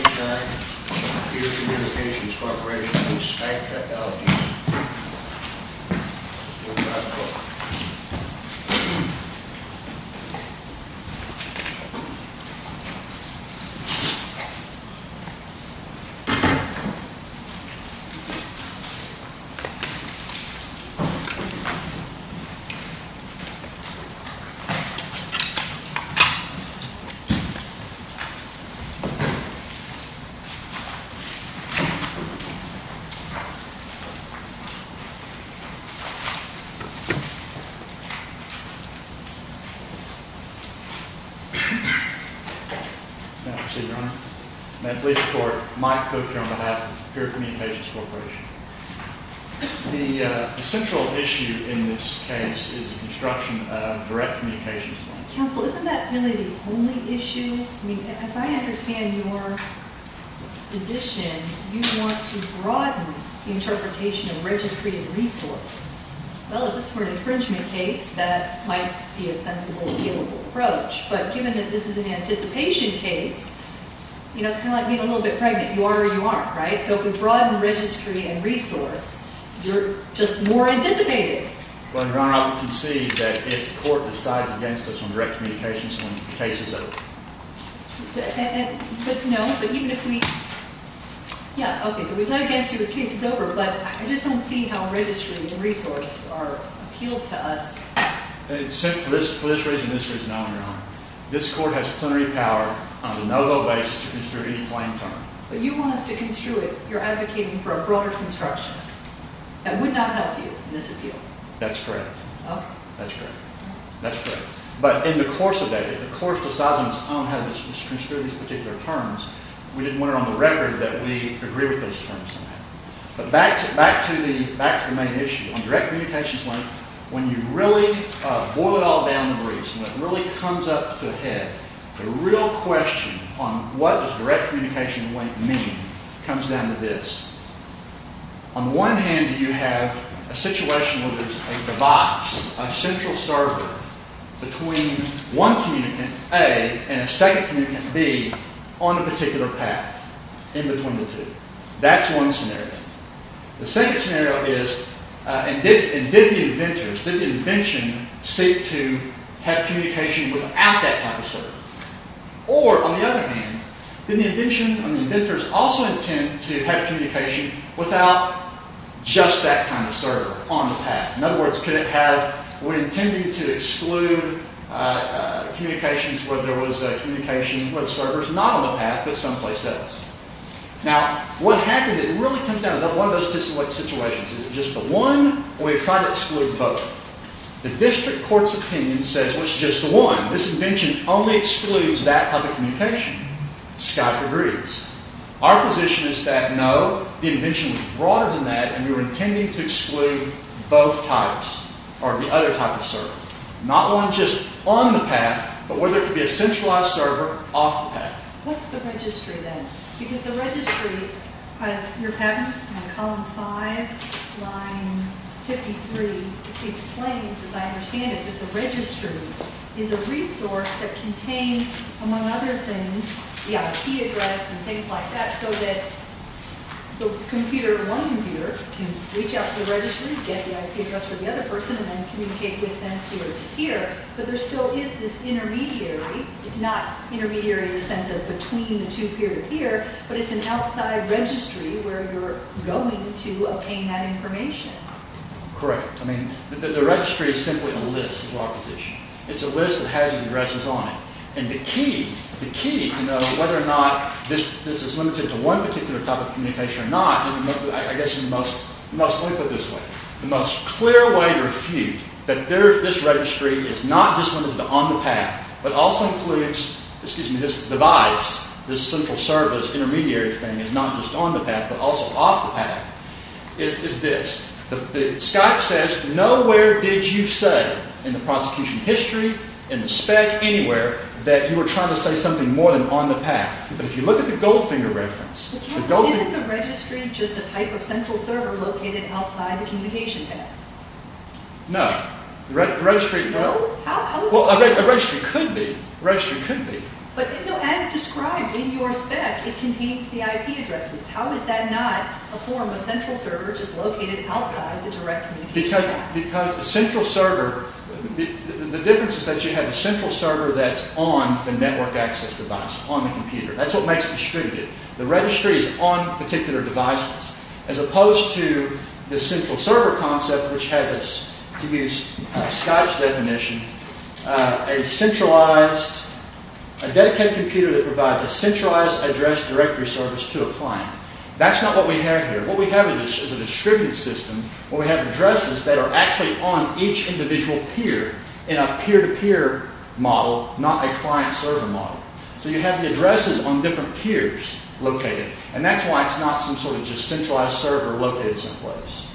Skype Tech, Peer Communications Corporation v. Skype Technologies May I proceed, Your Honor? May I please report Mike Cook here on behalf of Peer Communications Corporation. The central issue in this case is the construction of direct communications. Counsel, isn't that really the only issue? I mean, as I understand your position, you want to broaden the interpretation of registry and resource. Well, if this were an infringement case, that might be a sensible, doable approach. But given that this is an anticipation case, you know, it's kind of like being a little bit pregnant. You are or you aren't, right? So if we broaden registry and resource, you're just more anticipated. Well, Your Honor, I would concede that if the court decides against us on direct communications when the case is over. But no, but even if we... Yeah, okay, so we decide against you when the case is over, but I just don't see how registry and resource are appealed to us. It's simple. For this reason and this reason only, Your Honor. This court has plenary power on the no-go basis to construe any claim term. But you want us to construe it. You're advocating for a broader construction. That would not help you in this appeal. That's correct. Okay. That's correct. That's correct. But in the course of that, if the court decides on its own how to construe these particular terms, we didn't want it on the record that we agree with those terms somehow. But back to the main issue. On direct communications, when you really boil it all down to briefs, when it really comes up to a head, the real question on what does direct communication mean comes down to this. On one hand, you have a situation where there's a device, a central server, between one communicant, A, and a second communicant, B, on a particular path in between the two. That's one scenario. The second scenario is, and did the inventors, did the invention seek to have communication without that type of server? Or, on the other hand, did the invention, did the inventors also intend to have communication without just that kind of server on the path? In other words, could it have, were they intending to exclude communications where there was communication with servers not on the path but someplace else? Now, what happened, it really comes down to one of those two situations. Is it just the one, or do we try to exclude both? The district court's opinion says, well, it's just the one. This invention only excludes that type of communication. Scott agrees. Our position is that, no, the invention was broader than that, and we were intending to exclude both types, or the other type of server. Not one just on the path, but where there could be a centralized server off the path. What's the registry, then? Because the registry, as your patent, in column 5, line 53, explains, as I understand it, that the registry is a resource that contains, among other things, the IP address and things like that, so that the computer, one computer, can reach out to the registry, get the IP address for the other person, and then communicate with them through it to here. But there still is this intermediary. It's not intermediary in the sense of between the two peer-to-peer, but it's an outside registry where you're going to obtain that information. Correct. I mean, the registry is simply a list of our position. It's a list that has addresses on it. And the key to know whether or not this is limited to one particular type of communication or not, I guess in the most, let me put it this way, the most clear way to refute that this registry is not just limited to on the path, but also includes, excuse me, this device, this central service intermediary thing is not just on the path, but also off the path, is this. The Skype says, nowhere did you say in the prosecution history, in the spec, anywhere, that you were trying to say something more than on the path. But if you look at the Goldfinger reference, the Goldfinger- Isn't the registry just a type of central server located outside the communication path? No. The registry- No? Well, a registry could be. A registry could be. But as described in your spec, it contains the IP addresses. How is that not a form of central server just located outside the direct communication path? Because the central server, the difference is that you have a central server that's on the network access device, on the computer. That's what makes it distributed. The registry is on particular devices. As opposed to the central server concept, which has, to use Skype's definition, a centralized, a dedicated computer that provides a centralized address directory service to a client. That's not what we have here. What we have is a distributed system where we have addresses that are actually on each individual peer in a peer-to-peer model, not a client-server model. So you have the addresses on different peers located. And that's why it's not some sort of just centralized server located someplace.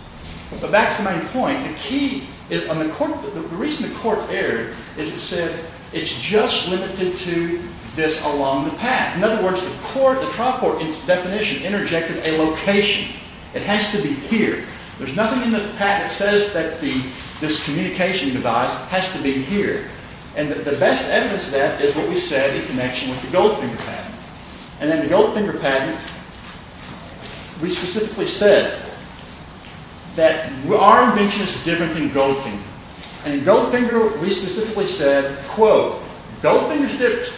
But back to my point, the reason the court erred is it said it's just limited to this along the path. In other words, the trial court definition interjected a location. It has to be here. There's nothing in the patent that says that this communication device has to be here. And the best evidence of that is what we said in connection with the Goldfinger patent. And in the Goldfinger patent, we specifically said that our invention is different than Goldfinger. And in Goldfinger, we specifically said, quote, Goldfinger is different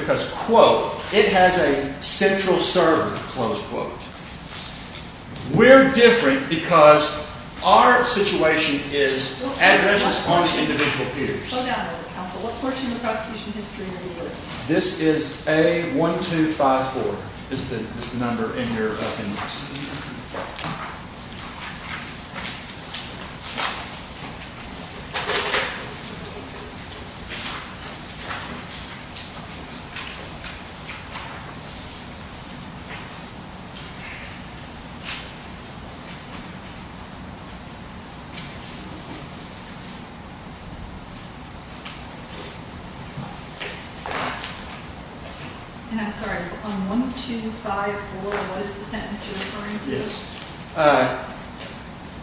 because, quote, it has a central server, close quote. We're different because our situation is addresses on individual peers. Slow down a little bit, counsel. What portion of the prosecution history are you working on? This is A1254 is the number in your appendix. And I'm sorry, on 1254, what is the sentence you're referring to? Yes.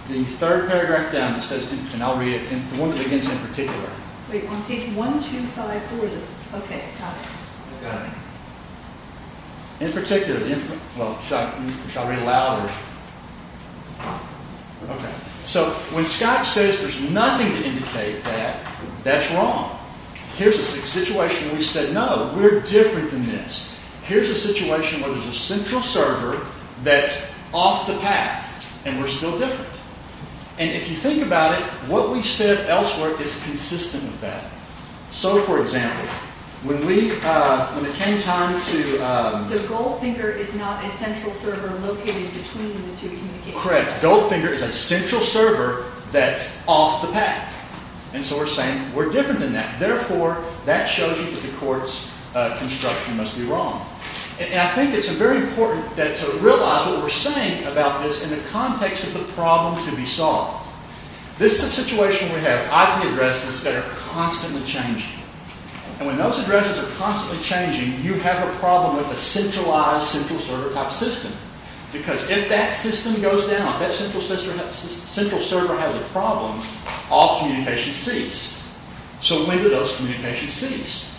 The third paragraph down, it says, and I'll read it, the one that begins in particular. Wait, on page 1254, okay, got it. Got it. In particular, well, shall I read it louder? Okay. So when Scott says there's nothing to indicate that, that's wrong. Here's a situation where we said, no, we're different than this. Here's a situation where there's a central server that's off the path, and we're still different. And if you think about it, what we said elsewhere is consistent with that. So, for example, when we, when it came time to. So Goldfinger is not a central server located between the two communications. Correct. Goldfinger is a central server that's off the path. And so we're saying we're different than that. Therefore, that shows you that the court's construction must be wrong. And I think it's very important to realize what we're saying about this in the context of the problem to be solved. This is a situation where we have IP addresses that are constantly changing. And when those addresses are constantly changing, you have a problem with a centralized central server type system. Because if that system goes down, if that central server has a problem, all communications cease. So when do those communications cease?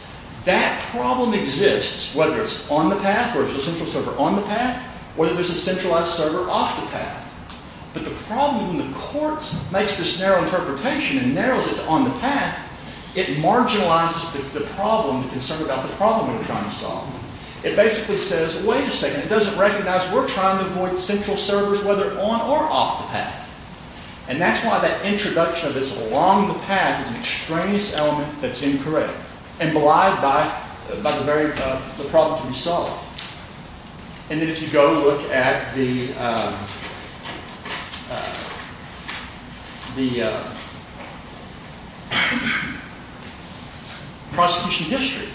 That problem exists whether it's on the path or if there's a central server on the path, whether there's a centralized server off the path. But the problem when the court makes this narrow interpretation and narrows it to on the path, it marginalizes the problem, the concern about the problem we're trying to solve. It basically says, wait a second, it doesn't recognize we're trying to avoid central servers whether on or off the path. And that's why that introduction of this along the path is an extraneous element that's incorrect and belied by the problem to be solved. And if you go look at the prosecution history,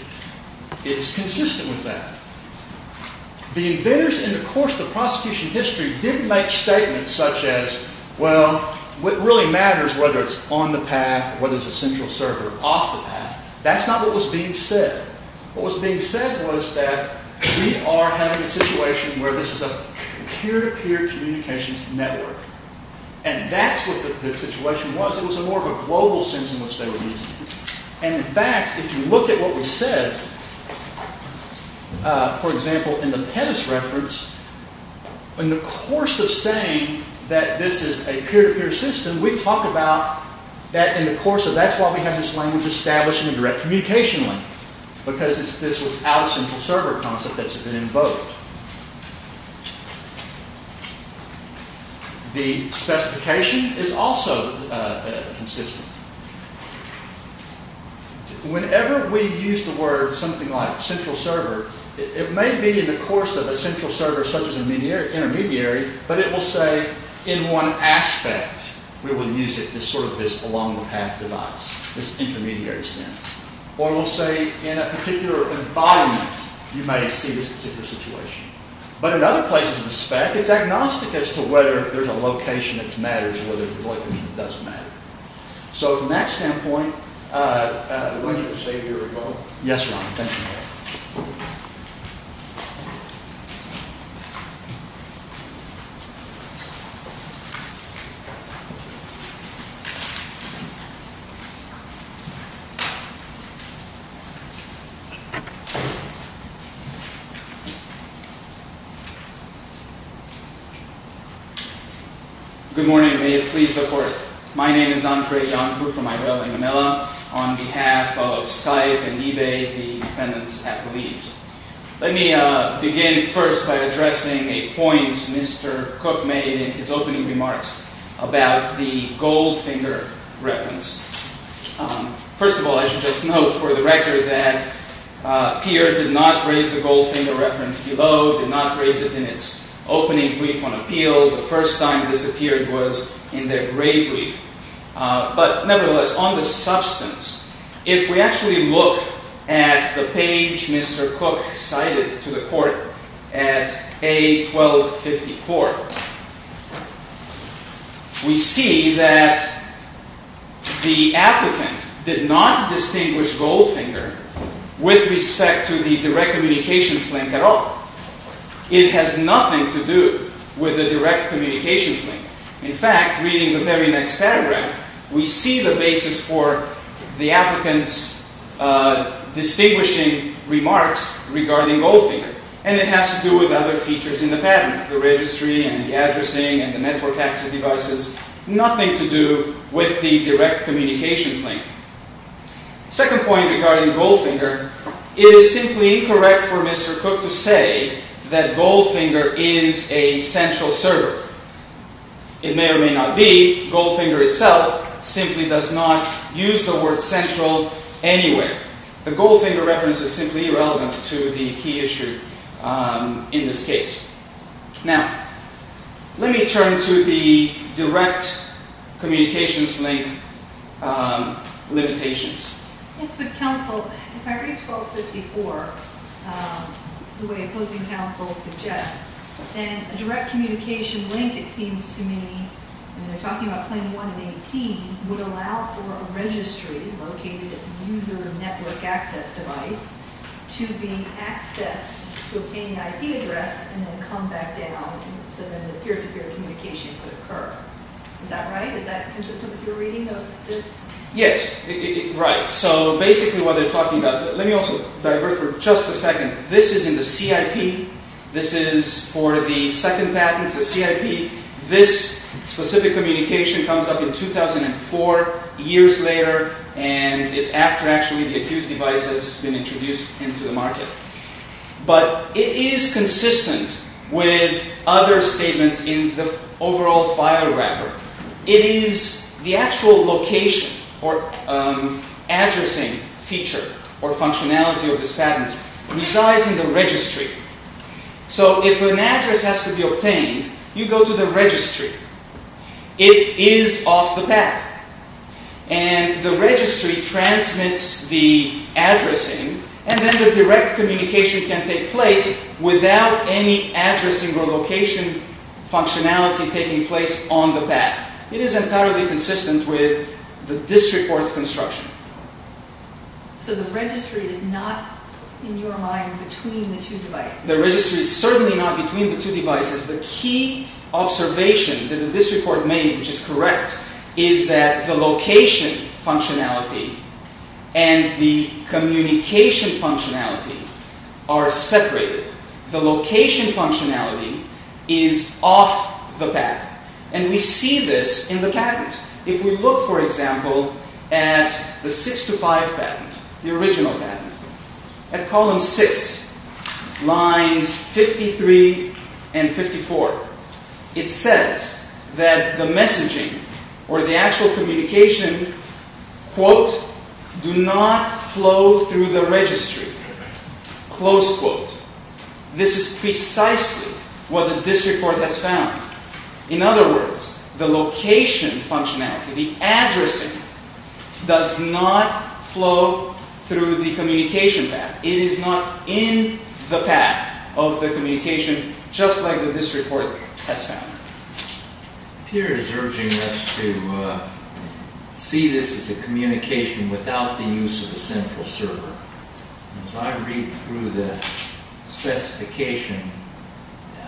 it's consistent with that. The inventors in the course of the prosecution history didn't make statements such as, well, what really matters whether it's on the path or whether it's a central server off the path. That's not what was being said. What was being said was that we are having a situation where this is a peer-to-peer communications network. And that's what the situation was. It was more of a global sense in which they were using it. And in fact, if you look at what we said, for example, in the Pettis reference, in the course of saying that this is a peer-to-peer system, we talk about that in the course of that's why we have this language established in a direct communication link, because this was out of central server concept that's been invoked. The specification is also consistent. Whenever we use the word something like central server, it may be in the course of a central server such as an intermediary, but it will say in one aspect we will use it as sort of this along-the-path device, this intermediary sense. Or it will say in a particular environment, you may see this particular situation. But in other places in the spec, it's agnostic as to whether there's a location that matters or whether the location doesn't matter. So from that standpoint, we can say here we go. Yes, Ron. Thank you. Good morning. May it please the Court. My name is Andrei Iancu from Irela and Manila. On behalf of Skype and eBay, the defendants at the lease. Let me begin first by addressing a point Mr. Cook made in his opening remarks about the goldfinger reference. First of all, I should just note for the record that Peer did not raise the goldfinger reference below, did not raise it in its opening brief on appeal. The first time this appeared was in their grave brief. But nevertheless, on the substance, if we actually look at the page Mr. Cook cited to the Court at A1254, we see that the applicant did not distinguish goldfinger with respect to the direct communications link at all. It has nothing to do with the direct communications link. In fact, reading the very next paragraph, we see the basis for the applicant's distinguishing remarks regarding goldfinger. And it has to do with other features in the patent, the registry and the addressing and the network access devices. Nothing to do with the direct communications link. Second point regarding goldfinger, it is simply incorrect for Mr. Cook to say that goldfinger is a central server. It may or may not be. Goldfinger itself simply does not use the word central anywhere. The goldfinger reference is simply irrelevant to the key issue in this case. Now, let me turn to the direct communications link limitations. Yes, but counsel, if I read A1254 the way opposing counsel suggests, then a direct communication link, it seems to me, and they're talking about Plan 1 and 18, would allow for a registry located at the user network access device to be accessed to obtain the IP address and then come back down so that a peer-to-peer communication could occur. Is that right? Is that consistent with your reading of this? Yes. Right. So basically what they're talking about, let me also divert for just a second. This is in the CIP. This is for the second patent to CIP. This specific communication comes up in 2004, years later, and it's after actually the accused device has been introduced into the market. But it is consistent with other statements in the overall file wrapper. It is the actual location or addressing feature or functionality of this patent resides in the registry. So if an address has to be obtained, you go to the registry. It is off the path, and the registry transmits the addressing, and then the direct communication can take place without any addressing or location functionality taking place on the path. It is entirely consistent with the district court's construction. So the registry is not, in your mind, between the two devices? The registry is certainly not between the two devices. The key observation that this report made, which is correct, is that the location functionality and the communication functionality are separated. The location functionality is off the path, and we see this in the patent. If we look, for example, at the 6 to 5 patent, the original patent, at column 6, lines 53 and 54, it says that the messaging or the actual communication, quote, do not flow through the registry, close quote. This is precisely what the district court has found. In other words, the location functionality, the addressing, does not flow through the communication path. It is not in the path of the communication, just like the district court has found. Pierre is urging us to see this as a communication without the use of a central server. As I read through the specification,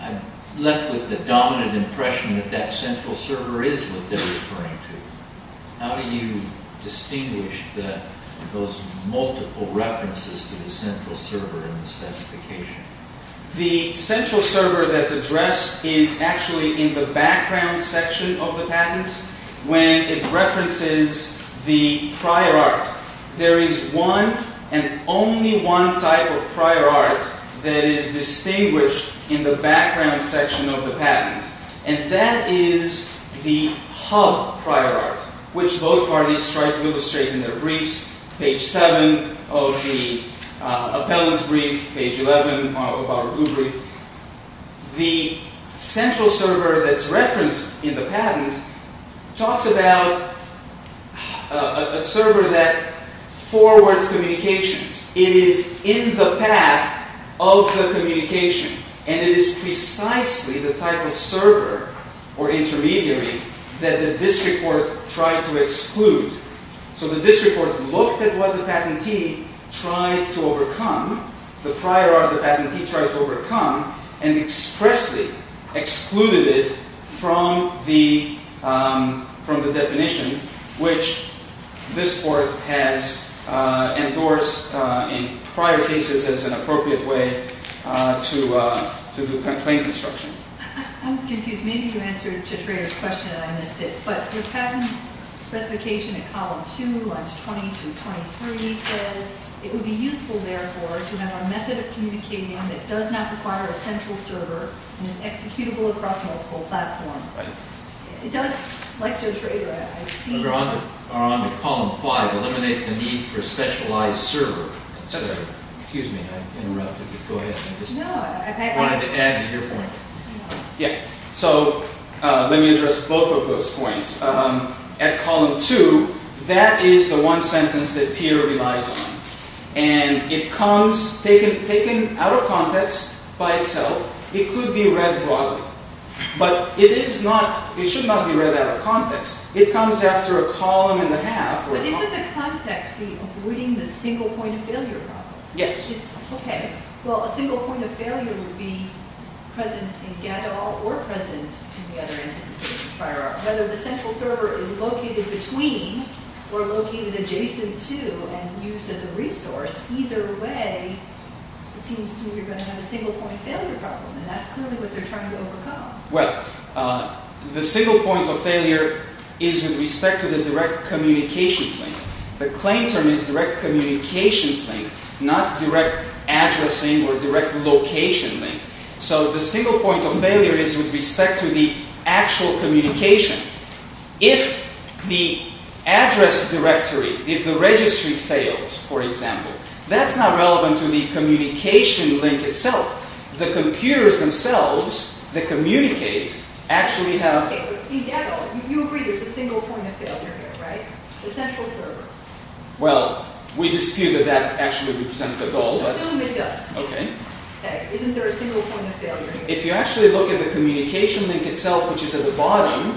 I'm left with the dominant impression that that central server is what they're referring to. How do you distinguish those multiple references to the central server in the specification? The central server that's addressed is actually in the background section of the patent, when it references the prior art. There is one and only one type of prior art that is distinguished in the background section of the patent, and that is the hub prior art, which both parties try to illustrate in their briefs, page 7 of the appellant's brief, page 11 of our blue brief. The central server that's referenced in the patent talks about a server that forwards communications. It is in the path of the communication, and it is precisely the type of server or intermediary that the district court tried to exclude. So the district court looked at what the patentee tried to overcome, the prior art the patentee tried to overcome, and expressly excluded it from the definition, which this court has endorsed in prior cases as an appropriate way to do complaint construction. I'm confused. Maybe you answered Joe Trader's question and I missed it. But the patent specification at column 2, lines 20 through 23 says, it would be useful, therefore, to have a method of communicating that does not require a central server and is executable across multiple platforms. It does, like Joe Trader, I see. We're on to column 5, eliminate the need for a specialized server. Excuse me, I interrupted you. Go ahead. I wanted to add to your point. Yeah, so let me address both of those points. At column 2, that is the one sentence that Peter relies on. And it comes, taken out of context by itself, it could be read broadly. But it is not, it should not be read out of context. It comes after a column and a half. But isn't the context the avoiding the single point of failure problem? Yes. Okay. Well, a single point of failure would be present in Gadol or present in the other anticipation prior art. Whether the central server is located between or located adjacent to and used as a resource, either way, it seems to me you're going to have a single point failure problem. And that's clearly what they're trying to overcome. Well, the single point of failure is with respect to the direct communications link. The claim term is direct communications link, not direct addressing or direct location link. So the single point of failure is with respect to the actual communication. If the address directory, if the registry fails, for example, that's not relevant to the communication link itself. The computers themselves, the communicate, actually have... Well, we dispute that that actually represents the goal, but... Okay. Okay. Isn't there a single point of failure? If you actually look at the communication link itself, which is at the bottom,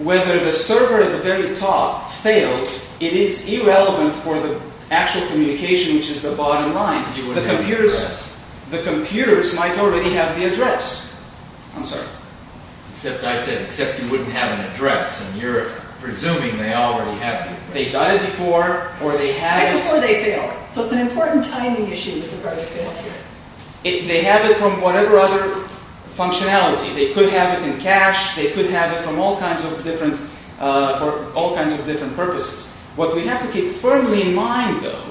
whether the server at the very top fails, it is irrelevant for the actual communication, which is the bottom line. The computers might already have the address. I'm sorry. Except I said, except you wouldn't have an address, and you're presuming they already have it. They've got it before, or they have it... Right before they fail. So it's an important timing issue with regard to failure. They have it from whatever other functionality. They could have it in cache. They could have it from all kinds of different, for all kinds of different purposes. What we have to keep firmly in mind, though,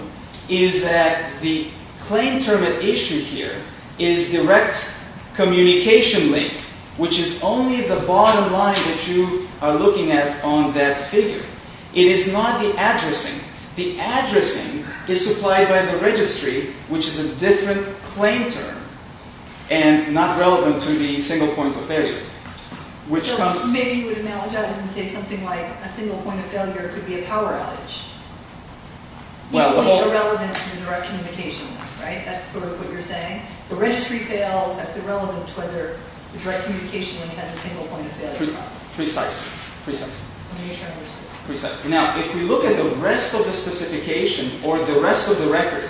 is that the claim term at issue here is direct communication link, which is only the bottom line that you are looking at on that figure. It is not the addressing. The addressing is supplied by the registry, which is a different claim term, and not relevant to the single point of failure, which comes... So maybe you would analogize and say something like a single point of failure could be a power outage. Well, the whole... Irrelevant to the direct communication link, right? That's sort of what you're saying. The registry fails. That's irrelevant to whether the direct communication link has a single point of failure. Precisely. Precisely. Now, if we look at the rest of the specification or the rest of the record,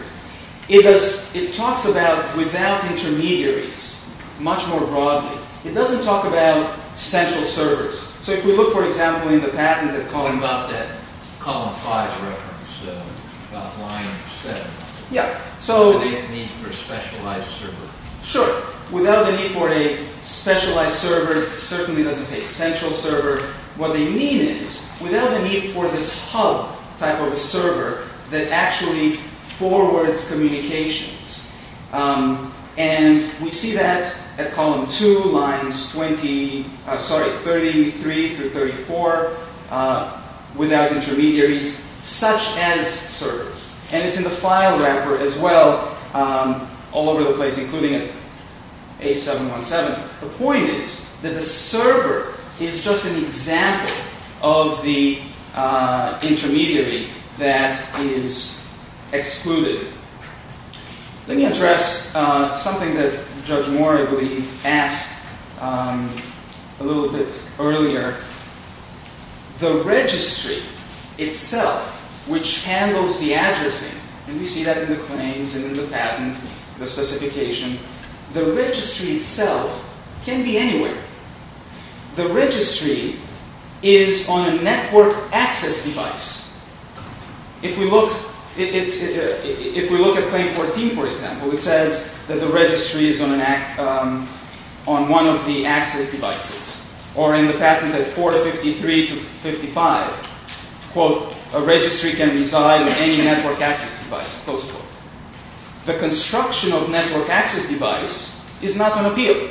it does... it talks about without intermediaries much more broadly. It doesn't talk about central servers. So if we look, for example, in the patented column... About that column 5 reference, about line 7. Yeah. So... Without the need for a specialized server. Sure. Without the need for a specialized server. It certainly doesn't say central server. What they mean is, without the need for this hub type of a server that actually forwards communications. And we see that at column 2, lines 20... Sorry, 33 through 34, without intermediaries, such as servers. And it's in the file wrapper as well, all over the place, including A717. The point is that the server is just an example of the intermediary that is excluded. Let me address something that Judge Moore, I believe, asked a little bit earlier. The registry itself, which handles the addressing... And we see that in the claims and in the patent, the specification. The registry itself can be anywhere. The registry is on a network access device. If we look at claim 14, for example, it says that the registry is on one of the access devices. Or in the patent at 453 to 55, quote, a registry can reside in any network access device, close quote. The construction of network access device is not on appeal.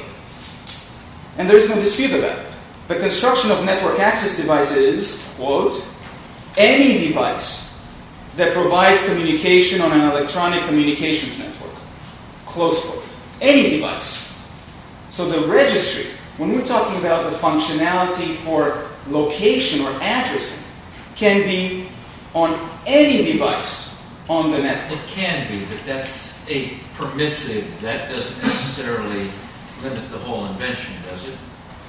And there is no dispute about it. The construction of network access device is, quote, any device that provides communication on an electronic communications network, close quote. Any device. So the registry, when we're talking about the functionality for location or addressing, can be on any device on the network. It can be, but that's a permissive. That doesn't necessarily limit the whole invention, does it?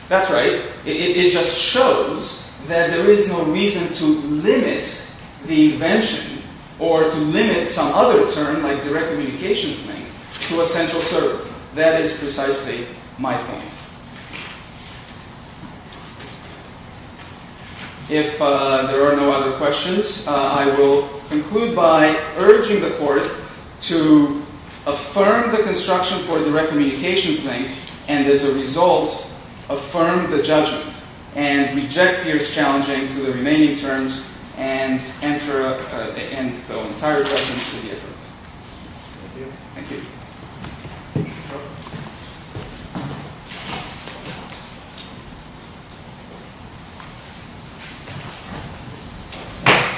That's right. It just shows that there is no reason to limit the invention or to limit some other term, like direct communications link, to a central server. That is precisely my point. If there are no other questions, I will conclude by urging the court to affirm the construction for direct communications link. And as a result, affirm the judgment. And reject Pierce-Challenging to the remaining terms. And enter the entire question into the effort. Thank you. Thank you.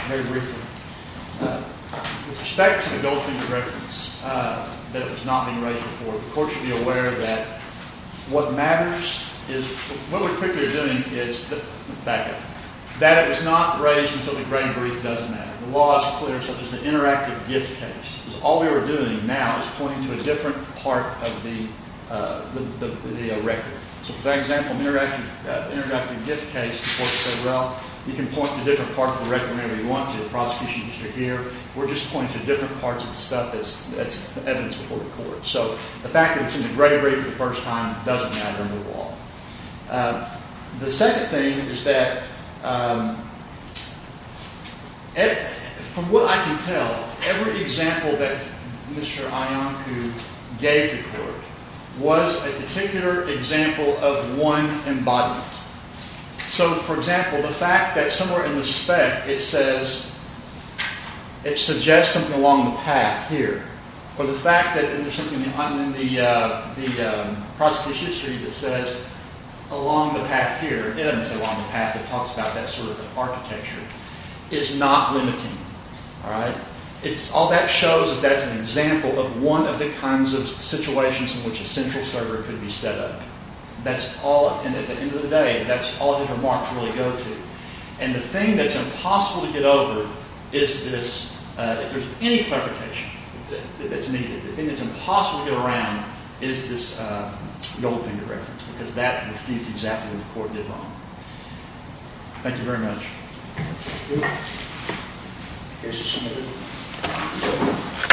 Very briefly, with respect to the Goldfinger reference that was not being raised before, the court should be aware that what matters is, what we're quickly doing is, back up, that it was not raised until the grain brief doesn't matter. The law is clear, such as the interactive gift case. All we were doing now is pointing to a different part of the record. So for that example, the interactive gift case, the court said, well, you can point to a different part of the record whenever you want. The prosecution used to hear. We're just pointing to different parts of the stuff that's evidence before the court. So the fact that it's in the grain brief for the first time doesn't matter in the law. The second thing is that, from what I can tell, every example that Mr. Iancu gave the court was a particular example of one embodiment. So for example, the fact that somewhere in the spec, it says, it suggests something along the path here. Or the fact that there's something in the prosecution history that says along the path here. It doesn't say along the path. It talks about that sort of architecture. It's not limiting. All right? All that shows is that's an example of one of the kinds of situations in which a central server could be set up. That's all. And at the end of the day, that's all his remarks really go to. And the thing that's impossible to get over is this, if there's any clarification that's needed, the thing that's impossible to get around is this gold finger reference. Because that refutes exactly what the court did wrong. Thank you very much.